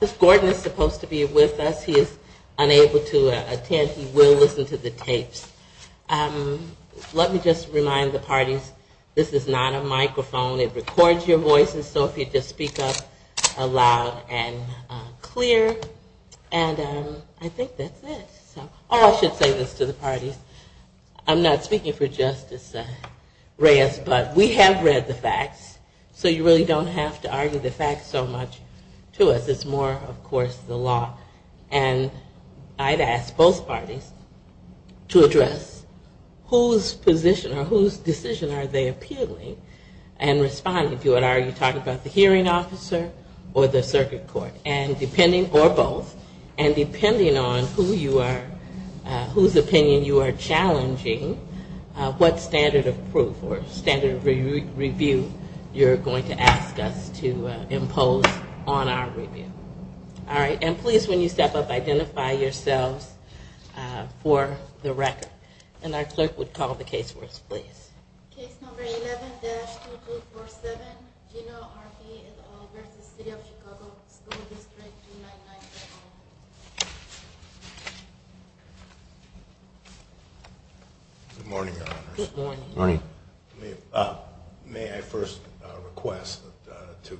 This Gordon is supposed to be with us. He is unable to attend. He will listen to the tapes. Let me just remind the parties, this is not a microphone. It records your voices, so if you just speak up loud and clear. And I think that's it. Oh, I should say this to the parties. I'm not speaking for Justice Reyes, but we have read the facts, so you really don't have to argue the facts so much to us. It's more, of course, the law. And I'd ask both parties to address whose position or whose decision are they appealing and responding to it. Are you talking about the hearing officer or the circuit court? And depending, or both, and depending on who you are talking to. Whose opinion you are challenging, what standard of proof or standard of review you're going to ask us to impose on our review. And please, when you step up, identify yourselves for the record. And our clerk would call the case for us, please. Case number 11-2247, Gino Harvey, vs. City of Chicago School District 299. Good morning, Your Honors. May I first request to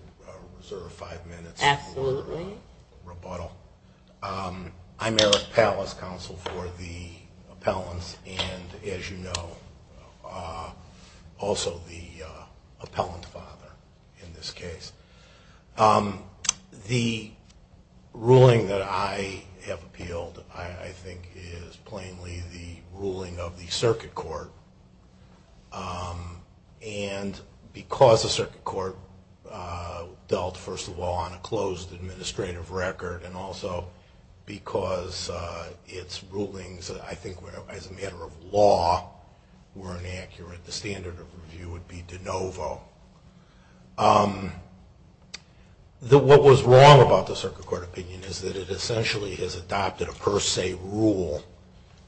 reserve five minutes for rebuttal? I'm Eric Pallas, counsel for the appellants, and as you know, also the appellant father in this case. The ruling that I have appealed, I think, is plainly the ruling of the circuit court. And because the circuit court dealt, first of all, on a closed administrative record, and also because its rulings, I think, as a matter of law, were inaccurate, the standard of review would be de novo. What was wrong about the circuit court opinion is that it essentially has adopted a per se rule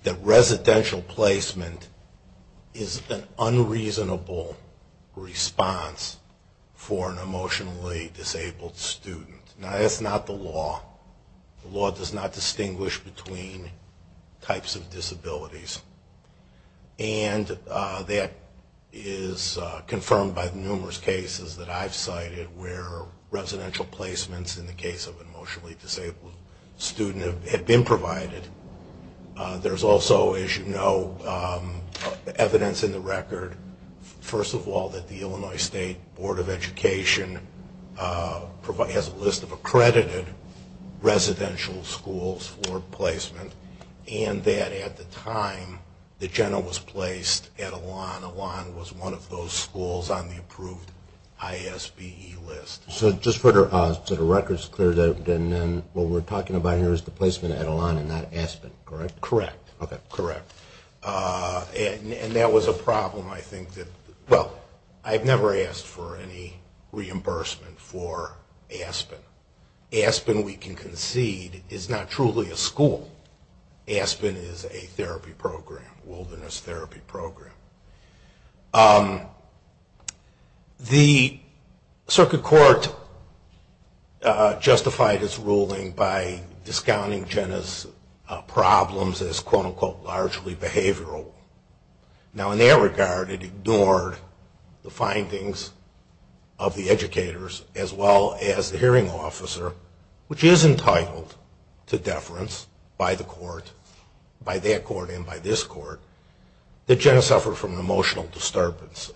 that residential placement is an unreasonable response for an emotionally disabled student. Now, that's not the law. The law does not distinguish between types of disabilities. And that is confirmed by the numerous cases that I've cited where residential placements in the case of an emotionally disabled student have been provided. There's also, as you know, evidence in the record, first of all, that the Illinois State Board of Education has a list of accredited residential schools for placement, and that at the time that Gino was placed at Elan, Elan was one of those schools on the approved ISBE list. So just for the record, it's clear that what we're talking about here is the placement at Elan and not Aspen, correct? Correct. Okay. Correct. And that was a problem, I think, that, well, I've never asked for any reimbursement for Aspen. Aspen, we can concede, is not truly a school. Aspen is a therapy program, wilderness therapy program. The circuit court justified its ruling by discounting Jenna's problems as, quote, unquote, largely behavioral. Now, in that regard, it ignored the findings of the educators as well as the hearing officer, which is entitled to deference by the court, by that court and by this court, that Jenna suffered from an emotional disturbance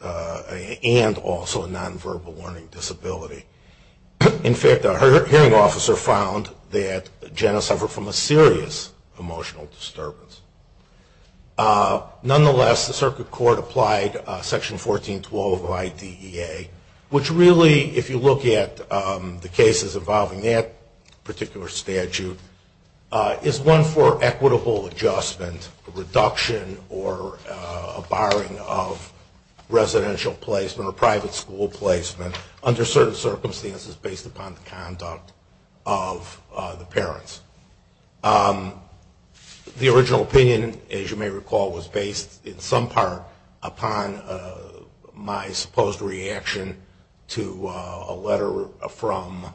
and also a nonverbal learning disability. In fact, a hearing officer found that Jenna suffered from a serious emotional disturbance. Nonetheless, the circuit court applied Section 1412 of IDEA, which really, if you look at the cases involving that particular statute, is one for equitable adjustment, reduction, or a barring of residential placement or private school placement under certain circumstances based upon the conduct of the parents. The original opinion, as you may recall, was based in some part upon my supposed reaction to a letter from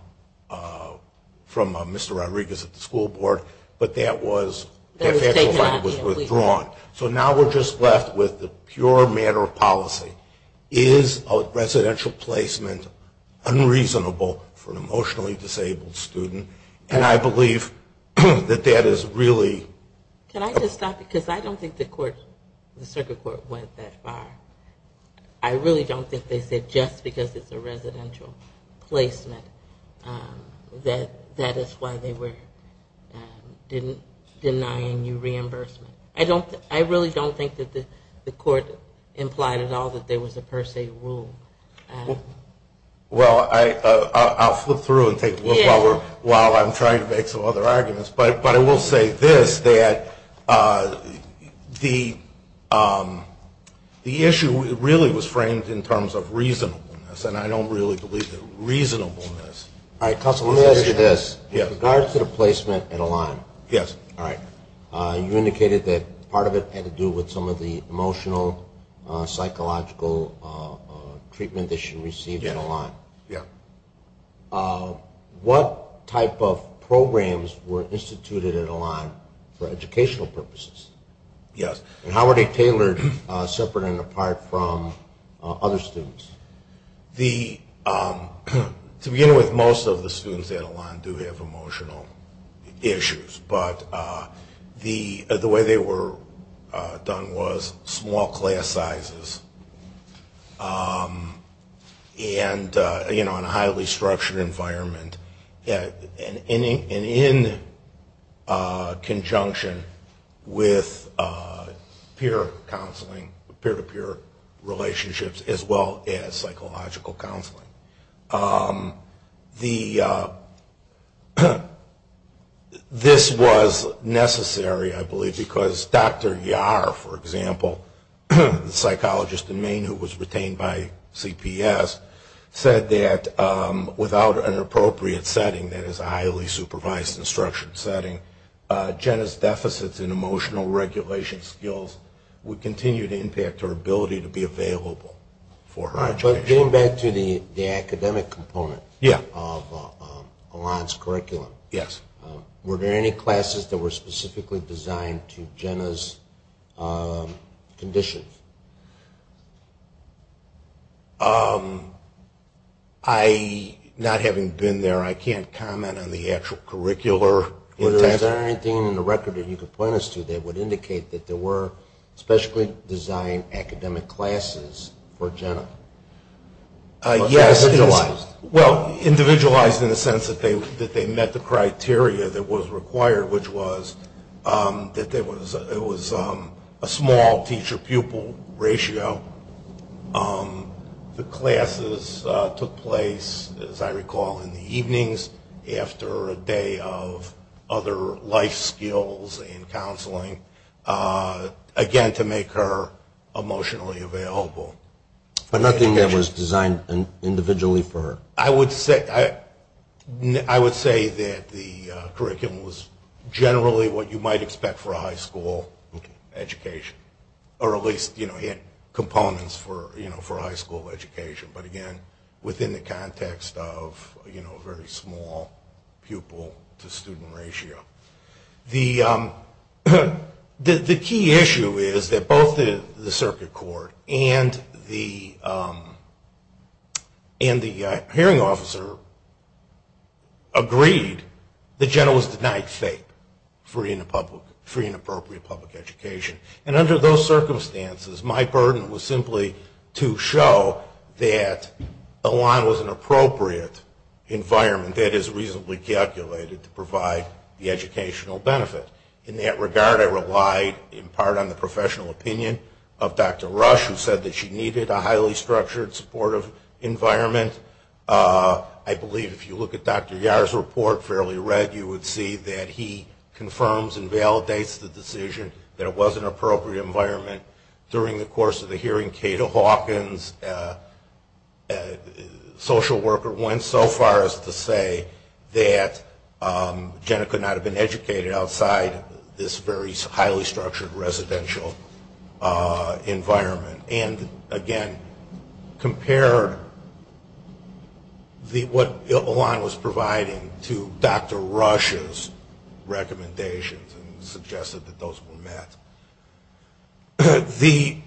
Mr. Rodriguez at the school board, but that was withdrawn. So now we're just left with the pure matter of policy. Is a residential placement unreasonable for an emotionally disabled student? And I believe that that is really… I really don't think that the court implied at all that there was a per se rule. Well, I'll flip through and take a look while I'm trying to make some other arguments, but I will say this, that the issue really was framed in terms of reasonableness, and I don't really believe that reasonableness… Let me ask you this. In regards to the placement at Elan, you indicated that part of it had to do with some of the emotional, psychological treatment that she received at Elan. What type of programs were instituted at Elan for educational purposes, and how were they tailored separate and apart from other students? To begin with, most of the students at Elan do have emotional issues, but the way they were done was small class sizes, and in a highly structured environment, and in conjunction with peer counseling, peer-to-peer relationships, as well as psychological counseling. This was necessary, I believe, because Dr. Yar, for example, the psychologist in Maine who was retained by CPS, said that without an appropriate setting, that is a highly supervised instruction setting, Jenna's deficits in emotional regulation skills would continue to impact her ability to be available for her education. Getting back to the academic component of Elan's curriculum, were there any classes that were specifically designed to Jenna's conditions? Not having been there, I can't comment on the actual curricular… Is there anything in the record that you can point us to that would indicate that there were specially designed academic classes for Jenna? Yes, well, individualized in the sense that they met the criteria that was required, which was that it was a small teacher-pupil ratio. The classes took place, as I recall, in the evenings after a day of other life skills and counseling, again, to make her emotionally available. But nothing that was designed individually for her? I would say that the curriculum was generally what you might expect for a high school education, or at least it had components for high school education, but again, within the context of a very small pupil-to-student ratio. The key issue is that both the circuit court and the hearing officer agreed that Jenna was denied FAPE, Free and Appropriate Public Education. And under those circumstances, my burden was simply to show that Elan was an appropriate environment that is reasonably calculated to provide the education that she needed. In that regard, I relied in part on the professional opinion of Dr. Rush, who said that she needed a highly structured, supportive environment. I believe if you look at Dr. Yar's report, Fairly Read, you would see that he confirms and validates the decision that it was an appropriate environment. During the course of the hearing, Cato Hawkins, a social worker, went so far as to say that Jenna could not have been educated in that environment. She could not have been educated outside this very highly structured residential environment, and again, compared what Elan was providing to Dr. Rush's recommendations and suggested that those were met. The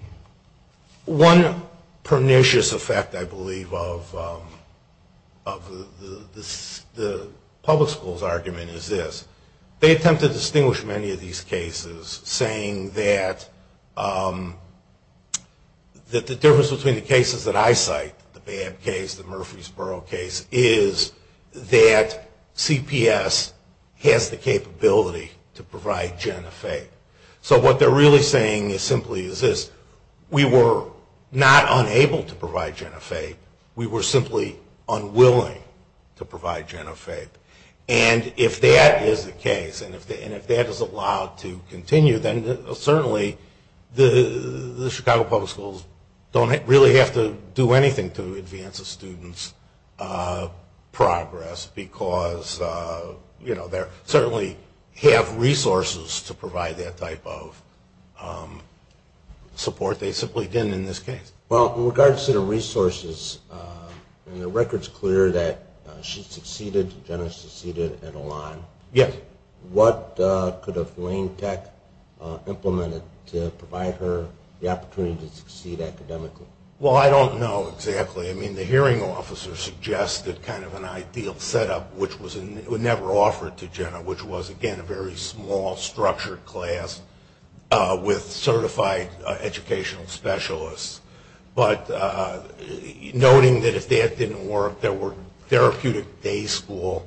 one pernicious effect, I believe, of the public school's argument is this. They attempt to distinguish many of these cases, saying that the difference between the cases that I cite, the Babb case, the Murfreesboro case, is that CPS has the capability to provide Jenna FAPE. So what they're really saying simply is this. We were not unable to provide Jenna FAPE. We were simply unwilling to provide Jenna FAPE. And if that is the case, and if that is allowed to continue, then certainly the Chicago Public Schools don't really have to do anything to advance a student's progress, because they certainly have resources to provide that type of support. They simply didn't in this case. Well, in regards to the resources, and the record's clear that she succeeded, Jenna succeeded at Elan. Yes. What could have Lane Tech implemented to provide her the opportunity to succeed academically? Well, I don't know exactly. I mean, the hearing officer suggested kind of an ideal setup, which was never offered to Jenna, which was, again, a very small structured class with certified educational specialists. But noting that if that didn't work, there were therapeutic day school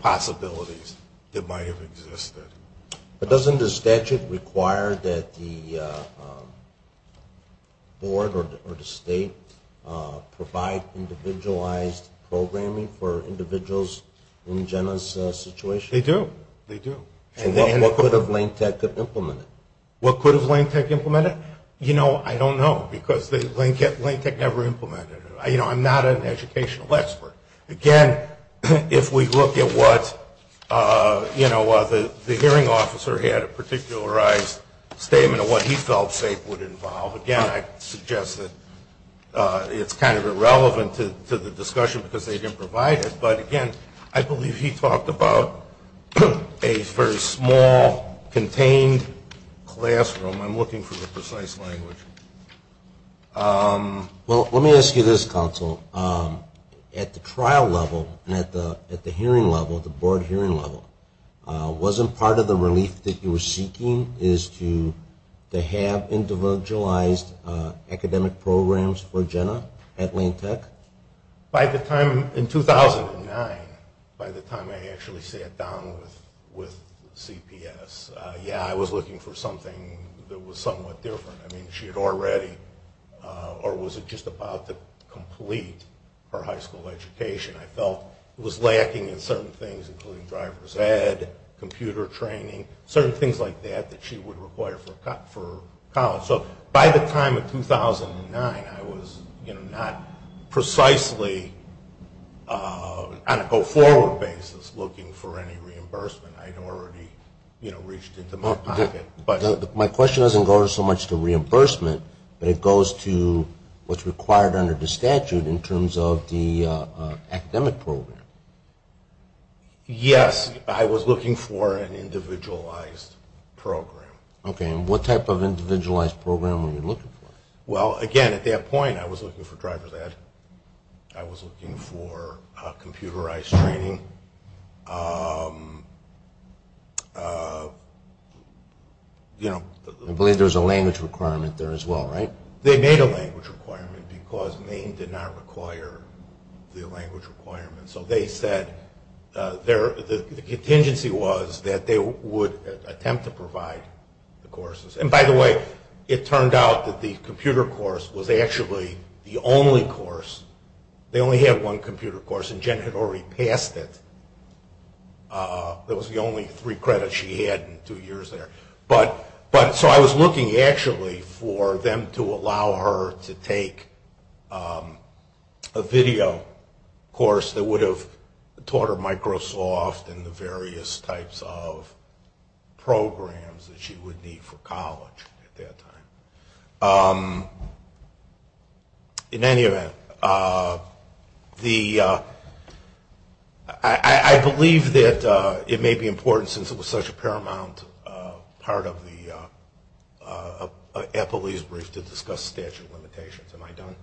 possibilities that might have existed. But doesn't the statute require that the board or the state provide individualized programming for individuals in Jenna's situation? They do. And what could have Lane Tech implemented? You know, I don't know, because Lane Tech never implemented it. You know, I'm not an educational expert. Again, if we look at what, you know, the hearing officer had a particularized statement of what he felt FAPE would involve, again, I suggest that it's kind of irrelevant to the discussion, because they didn't provide it. But again, I believe he talked about a very small contained classroom. I'm looking for the precise language. Well, let me ask you this, counsel. At the trial level and at the hearing level, the board hearing level, wasn't part of the relief that you were seeking is to have individualized academic programs for Jenna at Lane Tech? By the time, in 2009, by the time I actually sat down with CPS, yeah, I was looking for something that was somewhat different. I mean, she had already, or was just about to complete her high school education. I felt it was lacking in certain things, including driver's ed, computer training, certain things like that that she would require for college. So by the time of 2009, I was, you know, not precisely on a go-forward basis looking for any reimbursement. I had already, you know, reached into my pocket. My question doesn't go so much to reimbursement, but it goes to what's required under the statute in terms of the academic program. Yes, I was looking for an individualized program. Okay, and what type of individualized program were you looking for? Well, again, at that point, I was looking for driver's ed. I was looking for computerized training. I believe there was a language requirement there as well, right? They made a language requirement because Maine did not require the language requirement. So they said, the contingency was that they would attempt to provide the courses. And by the way, it turned out that the computer course was actually the only course. They only had one computer course and Jen had already passed it. It was the only three credits she had in two years there. So I was looking, actually, for them to allow her to take a video course that would have taught her Microsoft and the various types of programs that she would need for college at that time. In any event, I believe that it may be important, since it was such a paramount part of Applebee's brief, to discuss statute limitations. Am I done?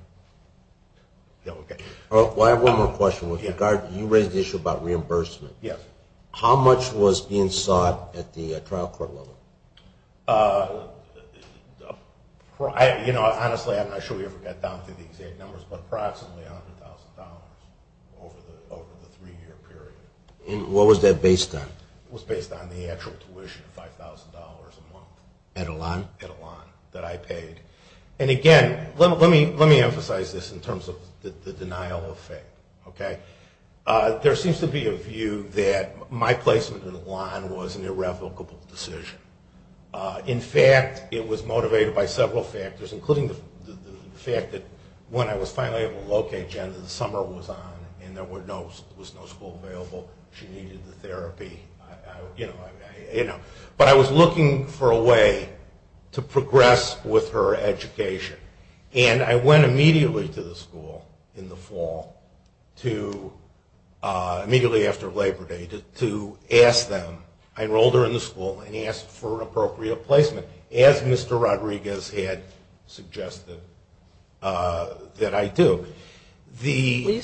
No? Okay. I have one more question. You raised the issue about reimbursement. Yes. How much was being sought at the trial court level? Honestly, I'm not sure we ever got down to the exact numbers, but approximately $100,000 over the three-year period. And what was that based on? It was based on the actual tuition, $5,000 a month. At Elan? At Elan, that I paid. And again, let me emphasize this in terms of the denial of fate. There seems to be a view that my placement at Elan was an irrevocable decision. In fact, it was motivated by several factors, including the fact that when I was finally able to locate Jenna, the summer was on and there was no school available. She needed the therapy. But I was looking for a way to progress with her education. And I went immediately to the school in the fall, immediately after Labor Day, to ask them. I enrolled her in the school and asked for an appropriate placement, as Mr. Rodriguez had suggested that I do. When you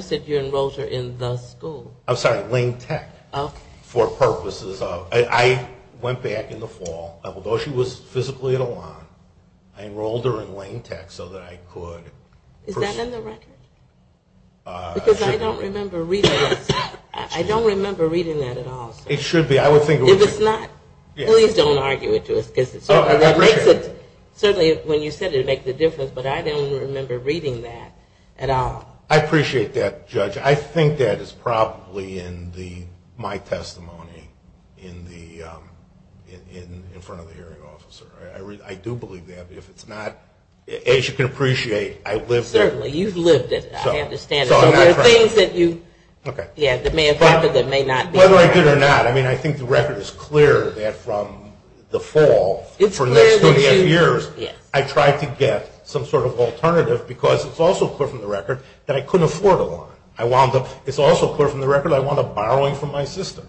said you enrolled her in the school? I'm sorry, Lane Tech. For purposes of... I went back in the fall. Although she was physically at Elan, I enrolled her in Lane Tech so that I could... Is that in the record? Because I don't remember reading that. I don't remember reading that at all. It should be. I would think it would be. If it's not, please don't argue it to us. Certainly when you said it would make the difference, but I don't remember reading that at all. I appreciate that, Judge. I think that is probably in my testimony in the... in front of the hearing officer. I do believe that if it's not... As you can appreciate, I lived it. Certainly, you've lived it. I understand it. Whether I did or not, I think the record is clear that from the fall, for the next 20 years, I tried to get some sort of alternative because it's also clear from the record that I couldn't afford Elan. It's also clear from the record that I wound up borrowing from my sister.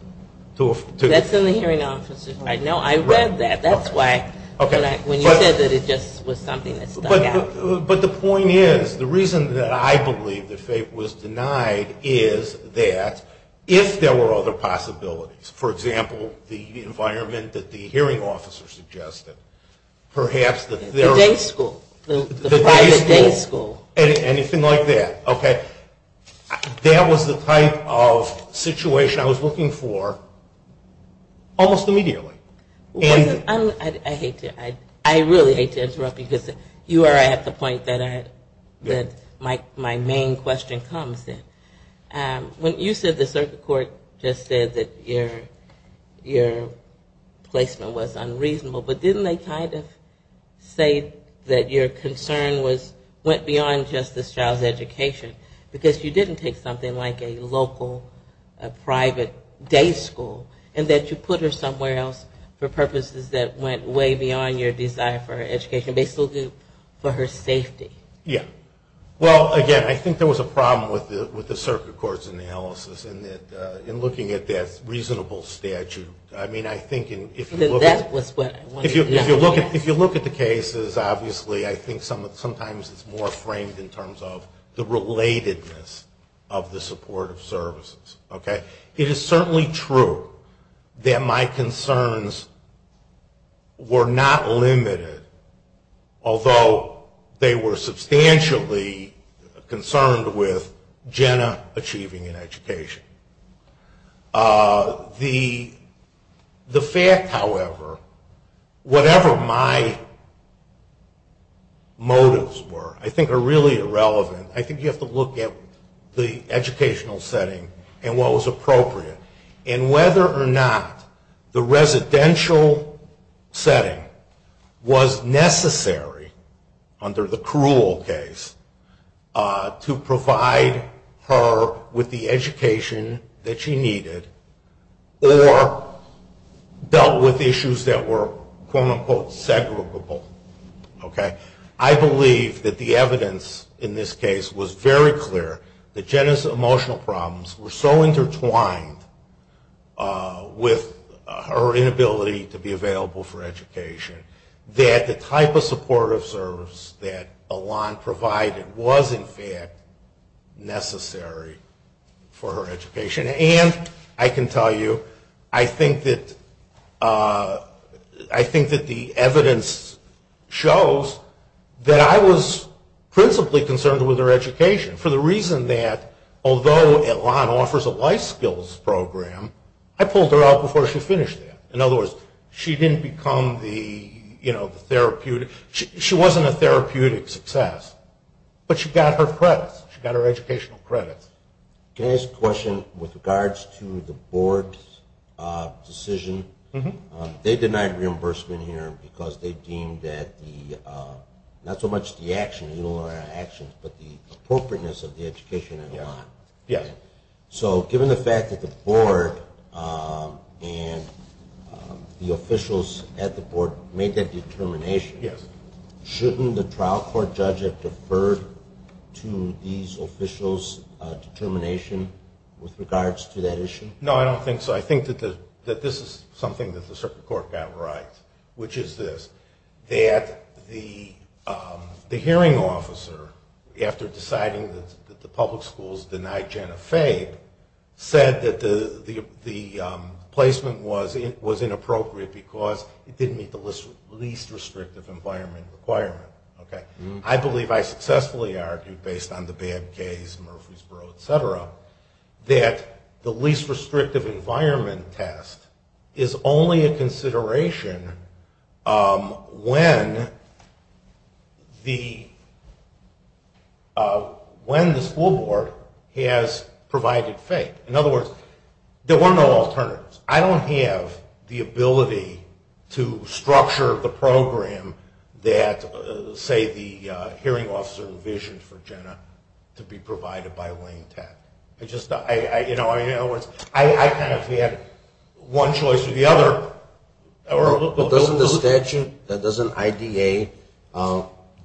That's in the hearing officer's record. No, I read that. That's why when you said that it just was something that stuck out. But the point is, the reason that I believe that FAPE was denied is that if there were other possibilities, for example, the environment that the hearing officer suggested, perhaps that there... The day school. The private day school. Anything like that. That was the type of situation I was looking for almost immediately. I hate to... I really hate to interrupt because you are at the point that my main question comes in. When you said the circuit court just said that your placement was unreasonable, but didn't they kind of say that your concern went beyond just this child's education? Because you didn't take something like a local, a private day school and that you put her somewhere else for purposes that went way beyond your desire for her education. Basically, for her safety. Yeah. Well, again, I think there was a problem with the circuit court's analysis in looking at that reasonable statute. I mean, I think if you look at the cases, obviously, I think sometimes it's more framed in terms of the relatedness of the supportive services. It is certainly true that my concerns were not limited although they were substantially concerned with Jenna achieving an education. The fact, however, whatever my motives were, I think are really irrelevant. I think you have to look at the educational setting and what was appropriate. And whether or not the residential setting was necessary under the cruel case to provide her with the education that she needed or dealt with issues that were quote unquote segregable. I believe that the evidence in this case was very clear that Jenna's emotional problems were so intertwined with her inability to be available for education that the type of supportive service that Alon provided was in fact necessary for her education. And I can tell you, I think that the evidence shows that I was principally concerned with her education for the reason that although Alon offers a life skills program, I pulled her out before she finished that. In other words, she didn't become the therapeutic, she wasn't a therapeutic success, but she got her credits, she got her educational credits. Can I ask a question with regards to the board's decision? They denied reimbursement here because they deemed that the, not so much the actions, but the appropriateness of the education in Alon. So given the fact that the board and the officials at the board made that determination, shouldn't the trial court judge have deferred to these officials' determination with regards to that issue? No, I don't think so. I think that this is something that the hearing officer, after deciding that the public schools denied Jenna Fabe, said that the placement was inappropriate because it didn't meet the least restrictive environment requirement. I believe I successfully argued based on the bad case, Murfreesboro, etc., that the least restrictive environment test is only a when the school board has provided Fabe. In other words, there were no alternatives. I don't have the ability to structure the program that, say, the hearing officer envisioned for Jenna to be provided by Wayne Tech. I kind of had one choice or the other. But doesn't the statute, doesn't IDA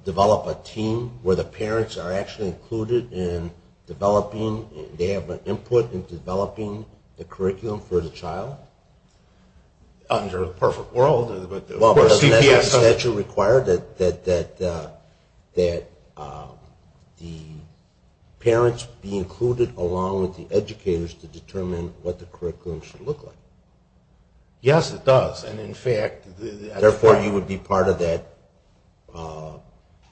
develop a team where the parents are actually included in developing, they have an input in developing the curriculum for the child? Under the perfect world, but the CPS... Well, doesn't that statute require that the parents be included along with the educators to determine what the curriculum should look like? Yes, it does. Therefore, you would be part of that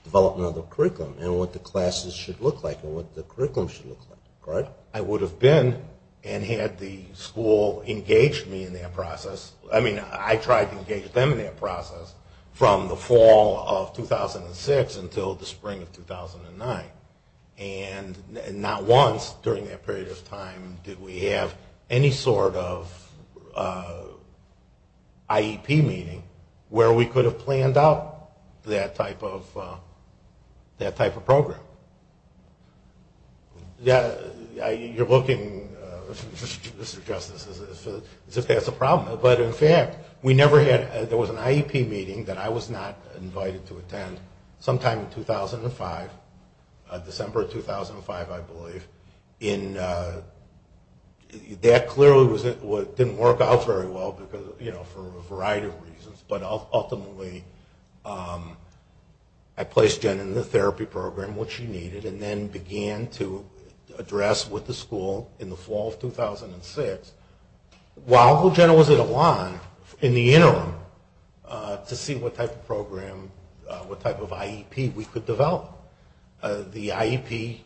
development of the curriculum and what the classes should look like and what the curriculum should look like, right? I would have been and had the school engaged me in that process. I mean, I tried to engage them in that process from the fall of 2006 until the spring of 2009. And not once during that period of time did we have any sort of IEP meeting where we could have planned out that type of program. You're looking, Mr. Justice, as if that's a problem. But in fact, we never had, there was an IEP meeting that I was not invited to attend sometime in 2005, December 2005, I believe, and that clearly didn't work out very well for a variety of reasons, but ultimately I placed Jenna in the therapy program, which she needed, and then began to address with the school in the fall of 2006. While Jenna was at Elan, in the interim, to see what type of program, what type of IEP we could develop. The IEP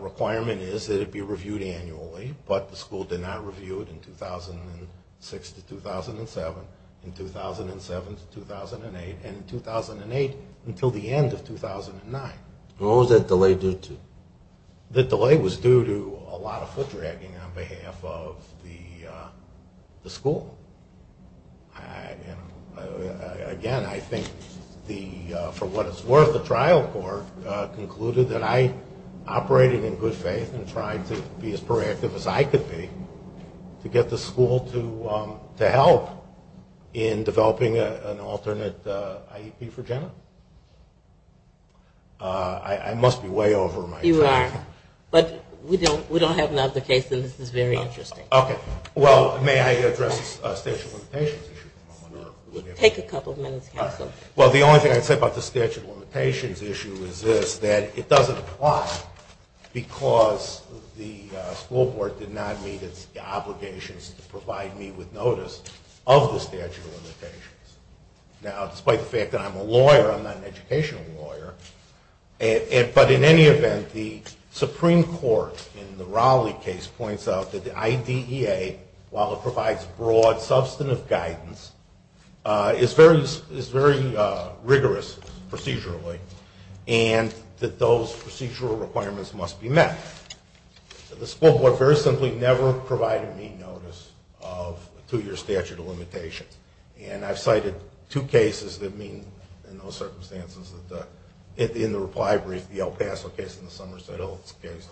requirement is that it be reviewed annually, but the school did not review it in 2006 to 2007, in 2007 to 2008, and in 2008 until the end of 2009. What was that delay due to? The delay was due to a lot of foot dragging on behalf of the school. Again, I think for what it's worth, the trial court concluded that I operated in good faith and tried to be as proactive as I could be to get the school to help in developing an alternate IEP for Jenna. I must be way over my time. You are. But we don't have another case, and this is very interesting. Okay. Well, may I address the statute of limitations issue? Well, the only thing I'd say about the statute of limitations issue is this, that it doesn't apply because the school board did not meet its obligations to provide me with notice of the statute of limitations. Now, despite the fact that I'm a lawyer, I'm not an educational lawyer, but in any event, the Supreme Court in the Rowley case points out that the IDEA, while it provides broad, substantive guidance, is very rigorous procedurally, and that those procedural requirements must be met. The school board very simply never provided me notice of a two-year statute of limitations, and I've cited two cases that mean in those circumstances, in the reply brief, the El Paso case and the Somerset Hills case,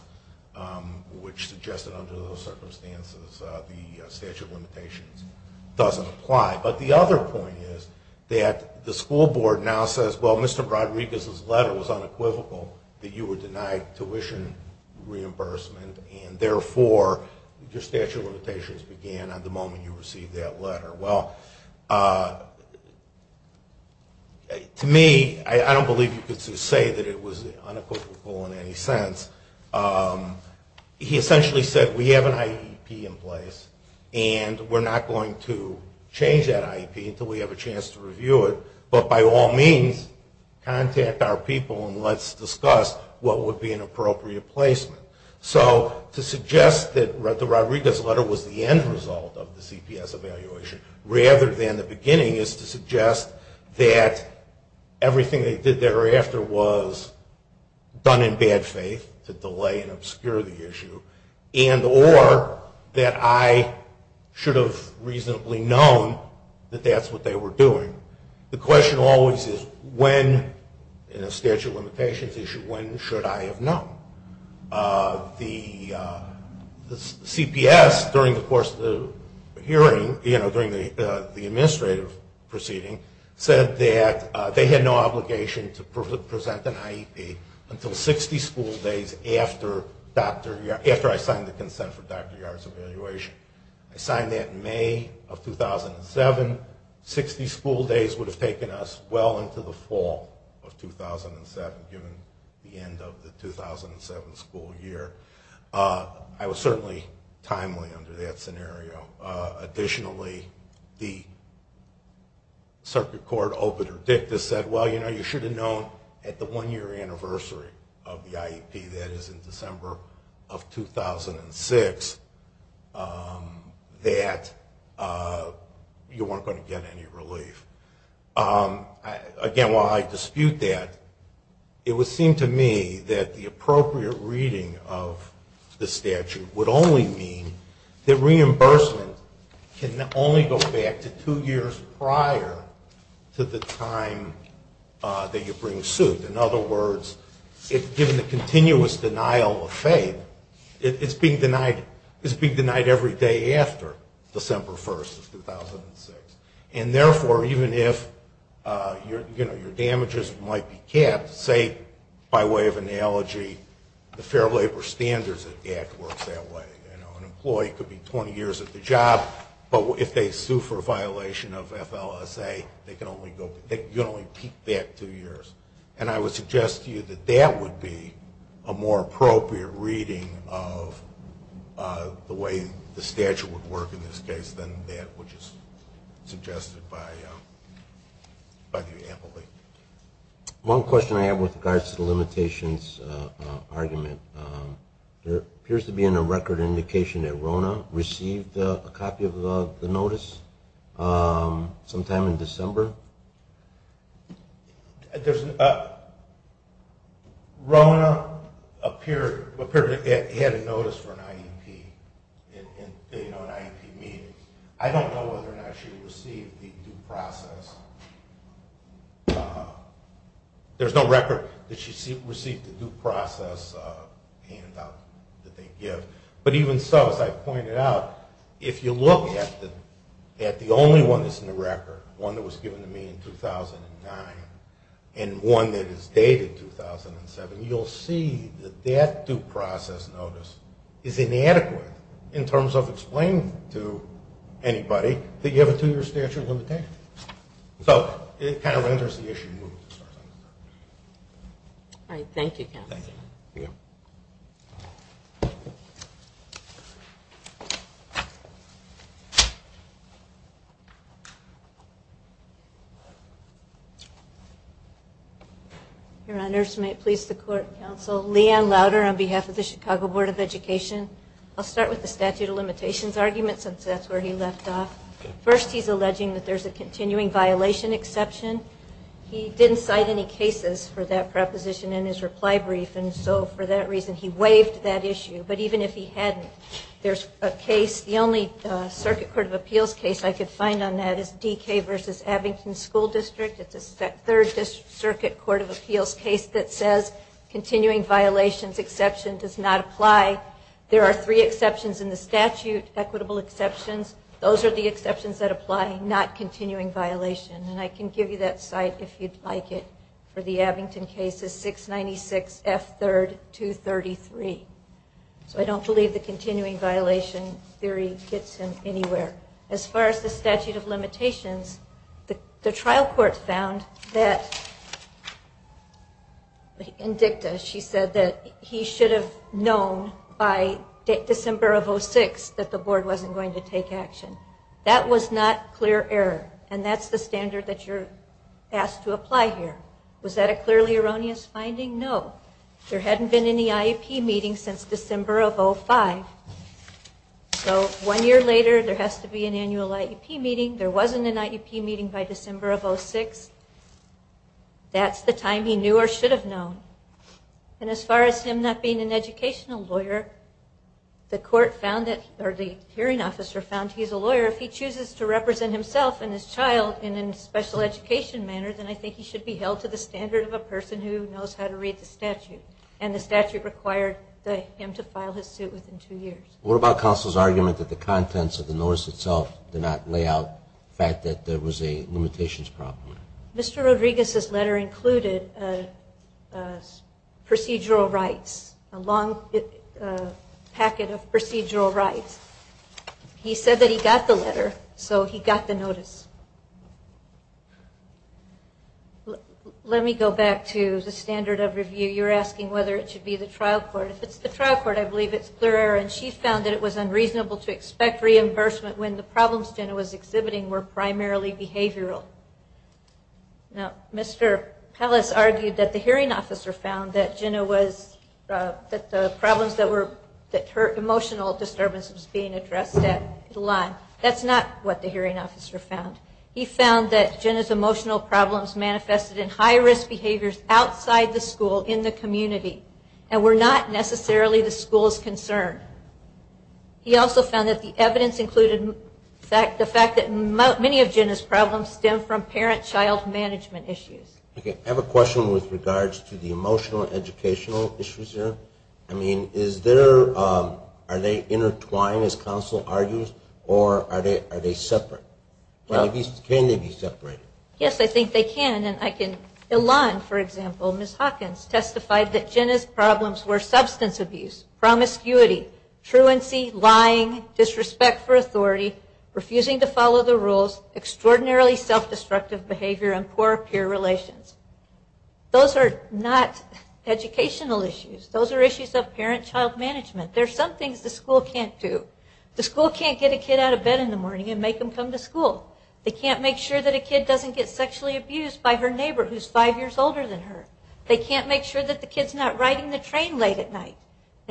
which suggested under those circumstances the statute of limitations doesn't apply. But the other point is that the school board now says, well, Mr. Rodriguez's letter was unequivocal that you were denied tuition reimbursement, and therefore your statute of limitations began at the moment you received that letter. Well, to me, I don't believe you could say that it was unequivocal in any sense. He essentially said, we have an IEP in place, and we're not going to change that IEP until we have a chance to review it, but by all means, contact our people and let's discuss what would be an appropriate placement. So to suggest that the Rodriguez letter was the end result of the CPS evaluation, rather than the beginning, is to suggest that everything they did thereafter was done in bad faith to delay and obscure the issue, and or that I should have reasonably known that that's what they were doing. The question always is when in a statute of limitations issue, when should I have known? The CPS during the course of the hearing, you know, during the administrative proceeding said that they had no obligation to present an IEP until 60 school days after I signed the consent for Dr. Yard's evaluation. I signed that in May of 2007. Sixty school days would have taken us well into the fall of 2007, given the end of the 2007 school year. I was certainly timely under that scenario. Additionally, the I should have known at the one-year anniversary of the IEP, that is in December of 2006, that you weren't going to get any relief. Again, while I dispute that, it would seem to me that the appropriate reading of the statute would only mean that reimbursement can only go back to two years prior to the time that you bring suit. In other words, given the continuous denial of faith, it's being denied every day after December 1st of 2006. And therefore, even if your damages might be capped, say, by way of analogy, the Fair Labor Standards Act works that way. An employee could be 20 years at the job, but if they sue for a violation of FLSA, you can only keep that two years. And I would suggest to you that that would be a more appropriate reading of the way the statute would work in this case than that which is suggested by the employee. One question I have with regards to the limitations argument. There appears to be a record indication that RONA received a copy of the notice sometime in December. RONA appeared to have had a notice for an IEP. I don't know whether or not she received the due process. There's no record that she received the due process handout that they give. But even so, as I pointed out, if you look at the only one that's in the record, one that was given to me in 2009 and one that is dated 2007, you'll see that that due process notice is inadequate in terms of explaining to anybody that you have a two-year statute of limitations. So it kind of renders the issue moot. All right. Thank you, Counsel. Your Honors, may it please the Court, Counsel, Leigh Ann Louder on behalf of the Chicago Board of Education. I'll start with the statute of limitations argument since that's where he left off. First, he's alleging that there's a continuing violation exception. He didn't cite any cases for that proposition in his reply brief, and so for that reason he waived that issue. But even if he hadn't, there's a case, the only Circuit Court of Appeals case I could find on that is DK v. Abington School District. It's a Third Circuit Court of Appeals case that says continuing violations exception does not apply. There are three exceptions in the statute, equitable exceptions. Those are the exceptions that apply, not continuing violations. And I can give you that site if you'd like it for the Abington case. It's 696 F. 3rd. 233. So I don't believe the continuing violation theory gets him anywhere. As far as the statute of limitations, the trial court found that in dicta, she said that he should have known by December of 06 that the board wasn't going to take action. That was not clear error, and that's the standard that you're asked to apply here. Was that a clearly erroneous finding? No. There hadn't been any IEP meetings since December of 05. So one year later, there has to be an annual IEP meeting. There wasn't an IEP meeting by December of 06. That's the time he knew or should have known. And as far as him not being an educational lawyer, the court found that, or the hearing officer found he's a lawyer, if he chooses to represent himself and his child in a special education manner, then I think he should be held to the standard of a person who knows how to read the statute. And the statute required him to file his suit within two years. What about counsel's argument that the contents of the notice itself did not lay out the fact that there was a limitations problem? Mr. Rodriguez's letter included procedural rights, a long packet of procedural rights. He said that he got the letter, so he got the notice. Let me go back to the standard of review. You're asking whether it should be the trial court. If it's the trial court, I believe it's clear error, and she found that it was unreasonable to expect reimbursement when the problems Jenna was exhibiting were primarily behavioral. Now, Mr. Pallas argued that the hearing officer found that Jenna was, that the problems that were, that her emotional disturbance was being addressed at the line. That's not what the hearing officer found. He found that Jenna's emotional problems manifested in high-risk behaviors outside the school, in the community, and were not necessarily the school's concern. He also found that the evidence included the fact that many of Jenna's problems stem from parent-child management issues. Okay, I have a question with regards to the emotional and educational issues here. I mean, is there, are they intertwined, as counsel argues, or are they separate? Can they be separated? Yes, I think they can. Ilan, for example, Ms. Hawkins, testified that Jenna's problems were substance abuse, promiscuity, truancy, lying, disrespect for authority, refusing to follow the rules, extraordinarily self-destructive behavior, and poor peer relations. Those are not educational issues. Those are issues of parent-child management. There are some things the school can't do. The school can't get a kid out of bed in the morning and make him come to school. They can't make sure that a kid doesn't get sexually abused by her neighbor who's five years older than her. They can't make sure that the kid's not riding the train late at night,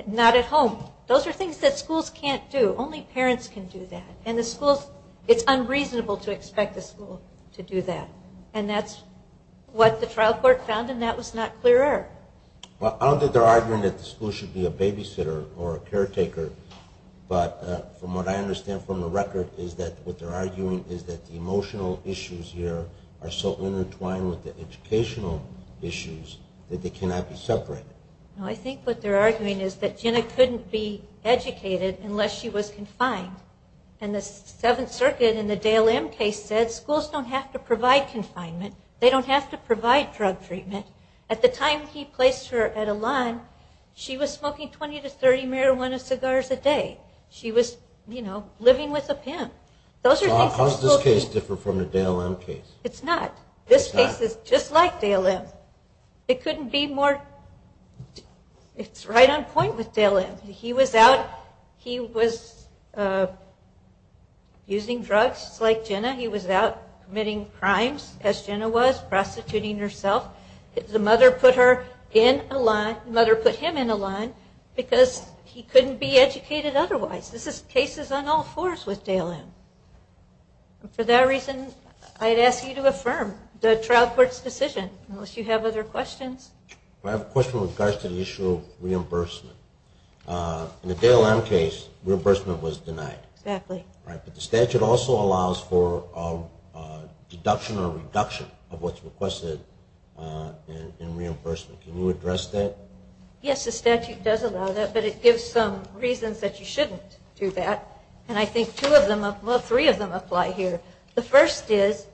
not at home. Those are things that schools can't do. Only parents can do that. And the schools, it's unreasonable to expect a school to do that. And that's what the trial court found, and that was not clear-er. I don't think they're arguing that the school should be a babysitter or a caretaker, but from what I understand from the record is that what they're arguing is that the emotional issues here are so intertwined with the educational issues that they cannot be separated. I think what they're arguing is that Jenna couldn't be educated unless she was confined. And the Seventh Circuit in the Dale M case said that schools don't have to provide confinement. They don't have to provide drug treatment. At the time he placed her at Elan, she was smoking 20 to 30 marijuana cigars a day. She was, you know, living with a pimp. Those are things... How does this case differ from the Dale M case? It's not. This case is just like Dale M. It couldn't be more... It's right on point with Dale M. He was out, he was using drugs just like Jenna. He was out committing crimes, as Jenna was, prostituting herself. The mother put her in Elan, the mother put him in Elan because he couldn't be educated otherwise. This is cases on all fours with Dale M. For that reason, I'd ask you to affirm the trial court's decision, unless you have other questions. I have a question with regards to the issue of reimbursement. In the Dale M case, reimbursement was denied. But the statute also allows for a deduction or reduction of what's requested in reimbursement. Can you address that? Yes, the statute does allow that, but it gives some reasons that you shouldn't do that. And I think two of them, well three of them apply here. The first is,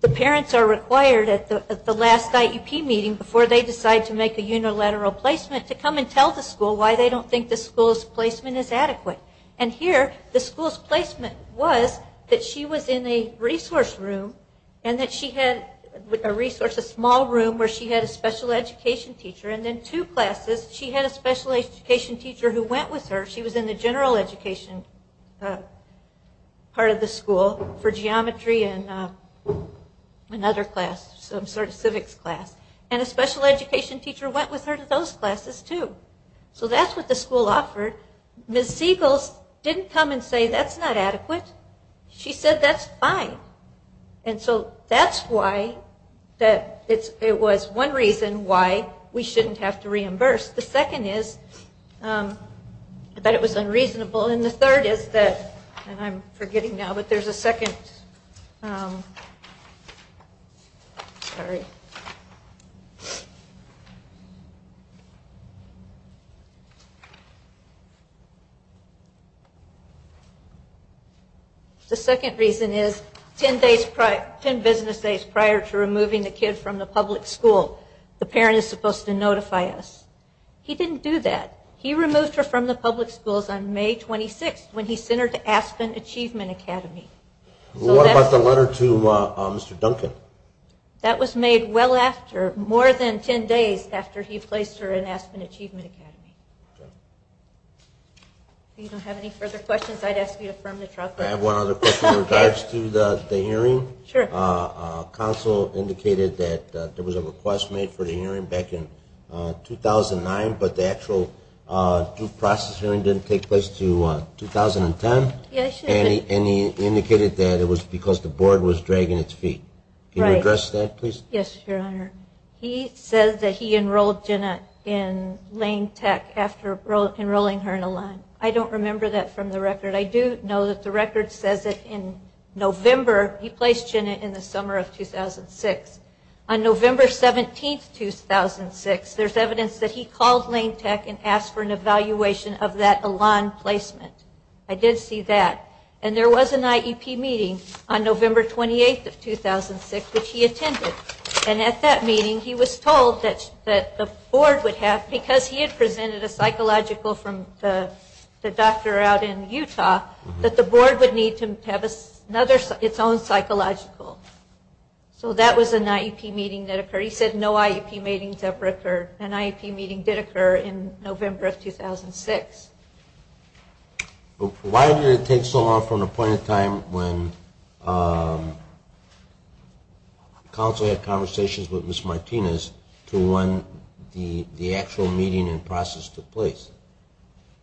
the parents are required at the last IEP meeting before they decide to make a unilateral placement to come and tell the school why they don't think the school's placement is adequate. And here, the school's placement was that she was in a resource room, a small room where she had a special education teacher. And in two classes, she had a special education teacher who went with her. She was in the general education part of the school for geometry and another class, some sort of civics class. And a special education teacher went with her to those classes too. So that's what the school offered. Ms. Siegel didn't come and say that's not adequate. She said that's fine. And so that's why that it was one reason why we shouldn't have to reimburse. The second is that it was unreasonable. And the third is that, and I'm forgetting now, but there's a second sorry excuse me The second reason is ten business days prior to removing the kid from the public school the parent is supposed to notify us. He didn't do that. He removed her from the public schools on May 26th when he sent her to Aspen Achievement Academy. What about the letter to Mr. Duncan? That was made well after, more than ten days after he placed her in Aspen Achievement Academy. If you don't have any further questions, I'd ask you to affirm the trial. I have one other question in regards to the hearing. Counsel indicated that there was a request made for the hearing back in 2009, but the actual due process hearing didn't take place until 2010. And he indicated that it was because the board was dragging its feet. Can you address that, please? Yes, Your Honor. He says that he enrolled Jenna in Lane Tech after enrolling her in Elan. I don't remember that from the record. I do know that the record says that in November he placed Jenna in the summer of 2006. On November 17th, 2006, there's evidence that he called Lane Tech and asked for an evaluation of that Elan placement. I did see that. And there was an IEP meeting on November 28th of 2006, which he attended. And at that meeting, he was told that the board would have, because he had presented a psychological from the doctor out in Utah, that the board would need to have another, its own psychological. So that was an IEP meeting that occurred. He said no IEP meetings ever occurred. An IEP meeting did occur in November of 2006. Why did it take so long from the point in time when counsel had conversations with Ms. Martinez to when the actual meeting and process took place?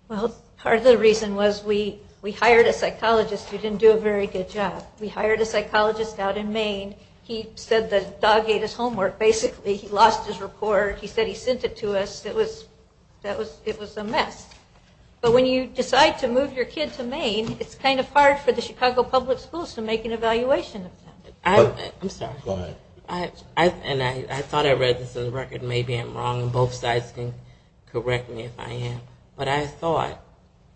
Well, part of the reason was we hired a psychologist who didn't do a very good job. We hired a psychologist out in Maine. He said the dog ate his homework basically. He lost his report. He said he sent it to us. It was a mess. But when you decide to move your kid to Maine, it's kind of hard for the Chicago Public Schools to make an evaluation of him. I'm sorry. Go ahead. I thought I read this in the record. Maybe I'm wrong and both sides can correct me if I am. But I thought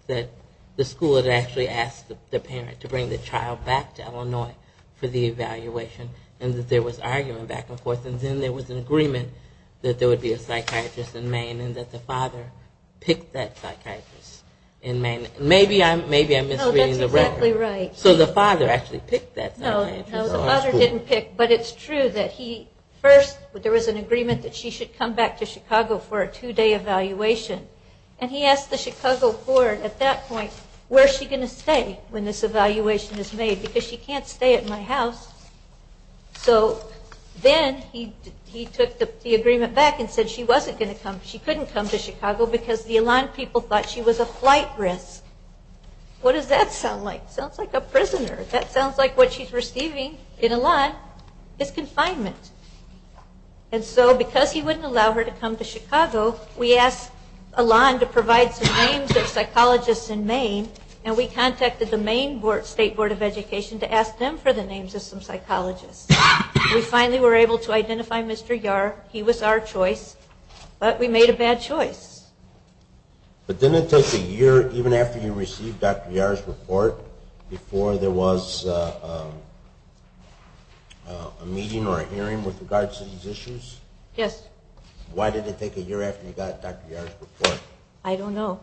that the school had actually asked the parent to bring the child back to Illinois for the evaluation and that there was argument back and forth. And then there was an agreement that there would be a psychiatrist in Maine and that the father picked that psychiatrist in Maine. Maybe I'm misreading the record. No, that's exactly right. So the father actually picked that psychiatrist. No, the father didn't pick. But it's true that he first, there was an agreement that she should come back to Chicago for a two-day evaluation. And he asked the Chicago Board at that point, where is she going to stay when this evaluation is made? Because she can't stay at my house. So then he took the agreement back and said she wasn't going to come. She couldn't come to Chicago because the Elan people thought she was a flight risk. What does that sound like? Sounds like a prisoner. That sounds like what she's receiving in Elan is confinement. And so because he wouldn't allow her to come to Chicago, we asked Elan to provide some names of psychologists in Maine and we contacted the Maine State Board of Education to ask them for the names of some psychologists. We finally were able to identify Mr. Yar. He was our choice, but we made a bad choice. But didn't it take a year even after you received Dr. Yar's report before there was a meeting or a hearing with regards to these issues? Yes. Why did it take a year after you got Dr. Yar's report? I don't know.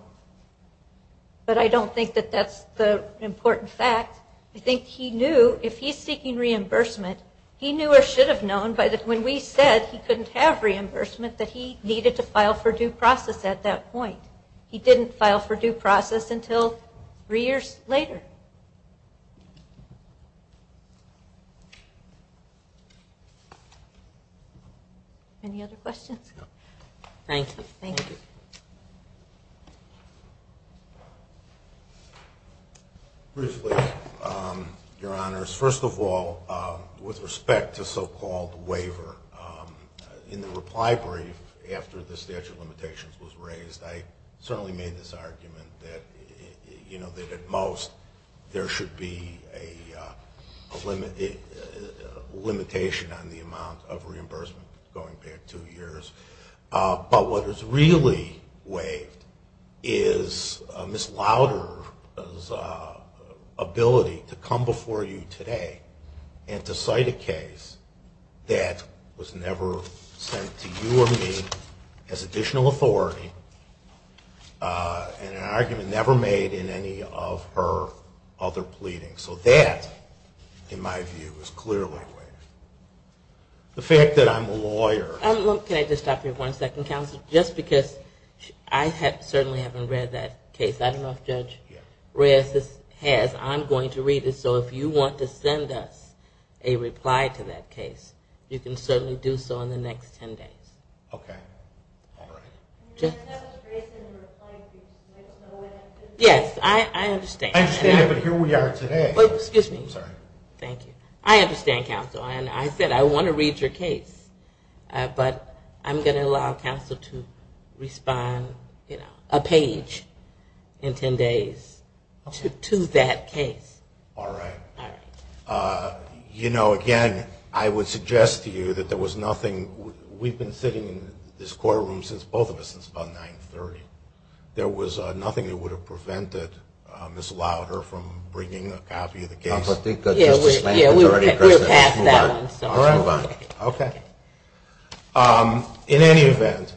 But I don't think that that's the important fact. I think he knew if he's seeking reimbursement, he knew or should have known when we said he couldn't have reimbursement that he needed to file for due process at that point. He didn't file for due process until three years later. Any other questions? Thank you. Briefly, Your Honors, first of all, with respect to so-called waiver, in the reply brief after the statute of limitations was raised, I certainly made this argument that at most there should be a limitation on the amount of reimbursement going back two years. But what is really waived is Ms. Lauder's ability to come before you today and to cite a case that was never sent to you or me as additional authority and an argument never made in any of her other pleadings. So that, in my view, is clearly waived. The fact that I'm a lawyer. Just because I certainly haven't read that case. I don't know if Judge Reyes has. I'm going to read it. So if you want to send us a reply to that case, you can certainly do so in the next ten days. Yes, I understand. But here we are today. Excuse me. I understand, Counsel. I said I want to read your case. But I'm going to allow Counsel to respond, you know, a page in ten days to that case. You know, again, I would suggest to you that there was nothing. We've been sitting in this courtroom, both of us, since about 930. There was nothing that would have prevented Ms. Louder from bringing a copy of the case. We're past that. In any event,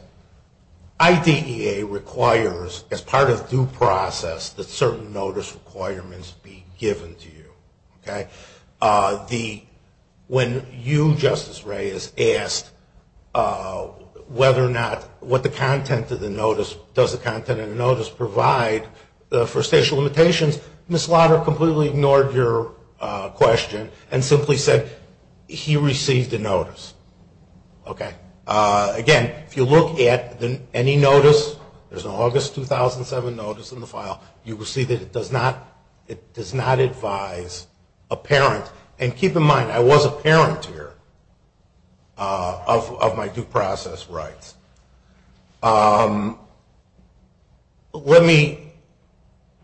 IDEA requires as part of due process that certain notice requirements be given to you. When you, Justice Reyes, asked whether or not what the content of the notice, does the content of the notice provide for station limitations, Ms. Louder completely ignored your question and simply said he received a notice. Again, if you look at any notice, there's an August 2007 notice in the file, you will see that it does not advise a parent, and keep in mind, I was a parent here, of my due process rights. Let me,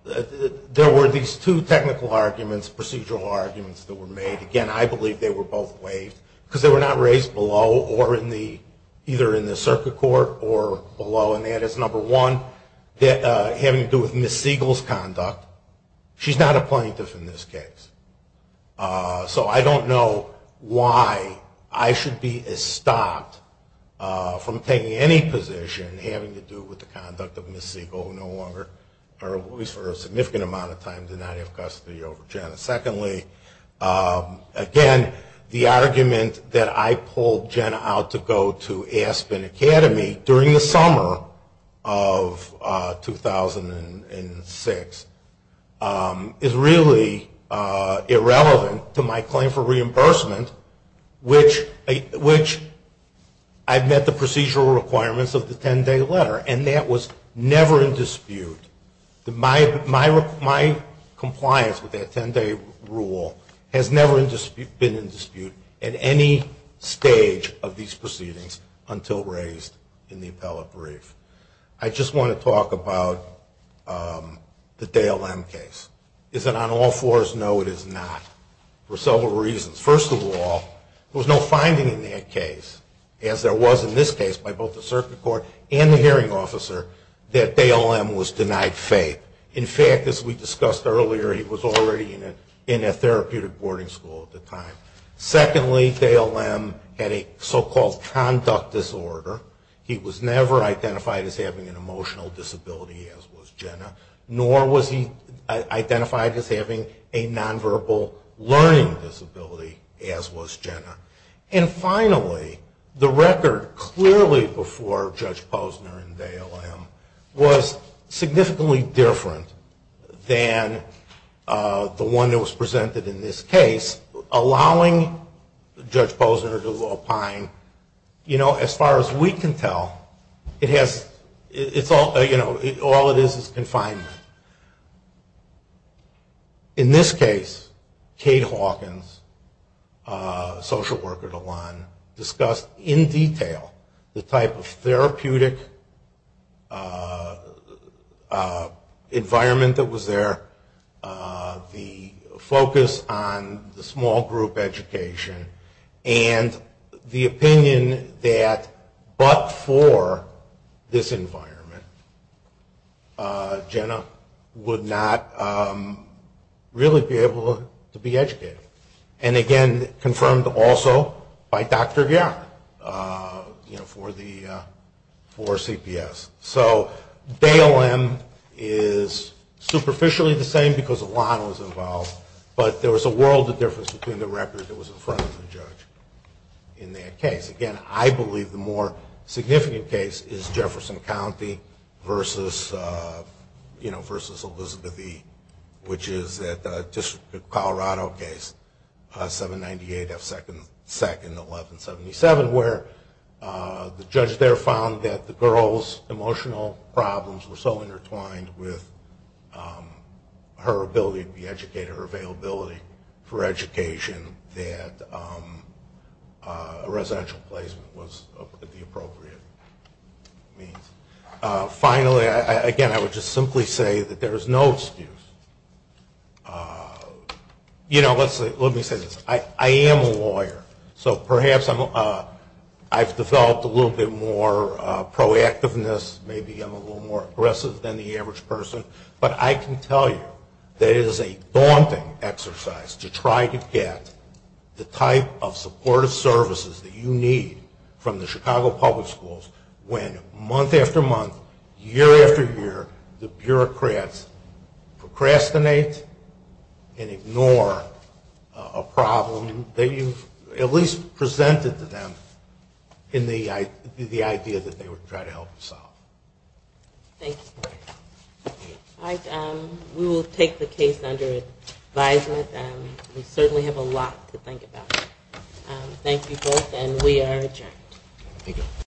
there were these two technical arguments, procedural arguments that were made. Again, I believe they were both waived, because they were not raised below or in the, either in the circuit court or below, and that is number one, having to do with Ms. Siegel's conduct. She's not a plaintiff in this case. So I don't know why I should be stopped from taking any position having to do with the conduct of Ms. Siegel, who no longer, or at least for a significant amount of time, did not have custody over Jenna. Secondly, again, the argument that I pulled Jenna out to go to Aspen Academy during the summer of 2006 is really irrelevant to my claim for reimbursement, which I met the procedural requirements of the 10-day letter, and that was never in dispute. My compliance with that 10-day rule has never been in dispute at any stage of these proceedings until raised in the appellate brief. I just want to talk about the Dale M case. Is it on all fours? No, it is not. For several reasons. First of all, there was no finding in that case, as there was in this case by both the circuit court and the hearing officer, that Dale M was denied faith. In fact, as we discussed earlier, he was already in a therapeutic boarding school at the time. Secondly, Dale M had a so-called conduct disorder. He was never identified as having an emotional disability, as was Jenna, nor was he identified as having a nonverbal learning disability, as was Jenna. And finally, the record clearly before Judge Posner and Dale M was significantly different than the one that was presented in this case, allowing Judge Posner to opine, you know, as far as we can tell, all it is is confinement. In this case, Kate Hawkins, social worker to one, discussed in detail the type of therapeutic environment that was there, the focus on the small group education, and the opinion that but for this environment, Jenna would not really be able to be educated. And again, confirmed also by Dr. Garrett for CPS. So Dale M is superficially the same because a lot was involved, but there was a world of difference between the record that was in front of the judge in that case. Again, I believe the more significant case is Jefferson County versus Elizabeth E, which is a Colorado case, 798F2-1177, where the judge there found that the girl's emotional problems were so intertwined with her ability to be educated, her availability for education, that a residential placement was the appropriate means. Finally, again, I would just simply say that there is no excuse. You know, let me say this. I am a lawyer, so perhaps I've developed a little bit more proactiveness, maybe I'm a little more aggressive than the average person, but I can tell you that it is a daunting exercise to try to get the type of supportive services that you need from the Chicago Public Schools when month after month, year after year, the bureaucrats procrastinate and ignore a problem that you've at least presented to them in the idea that they would try to help you solve. Thank you. We will take the case under advisement. We certainly have a lot to think about. Thank you both, and we are adjourned.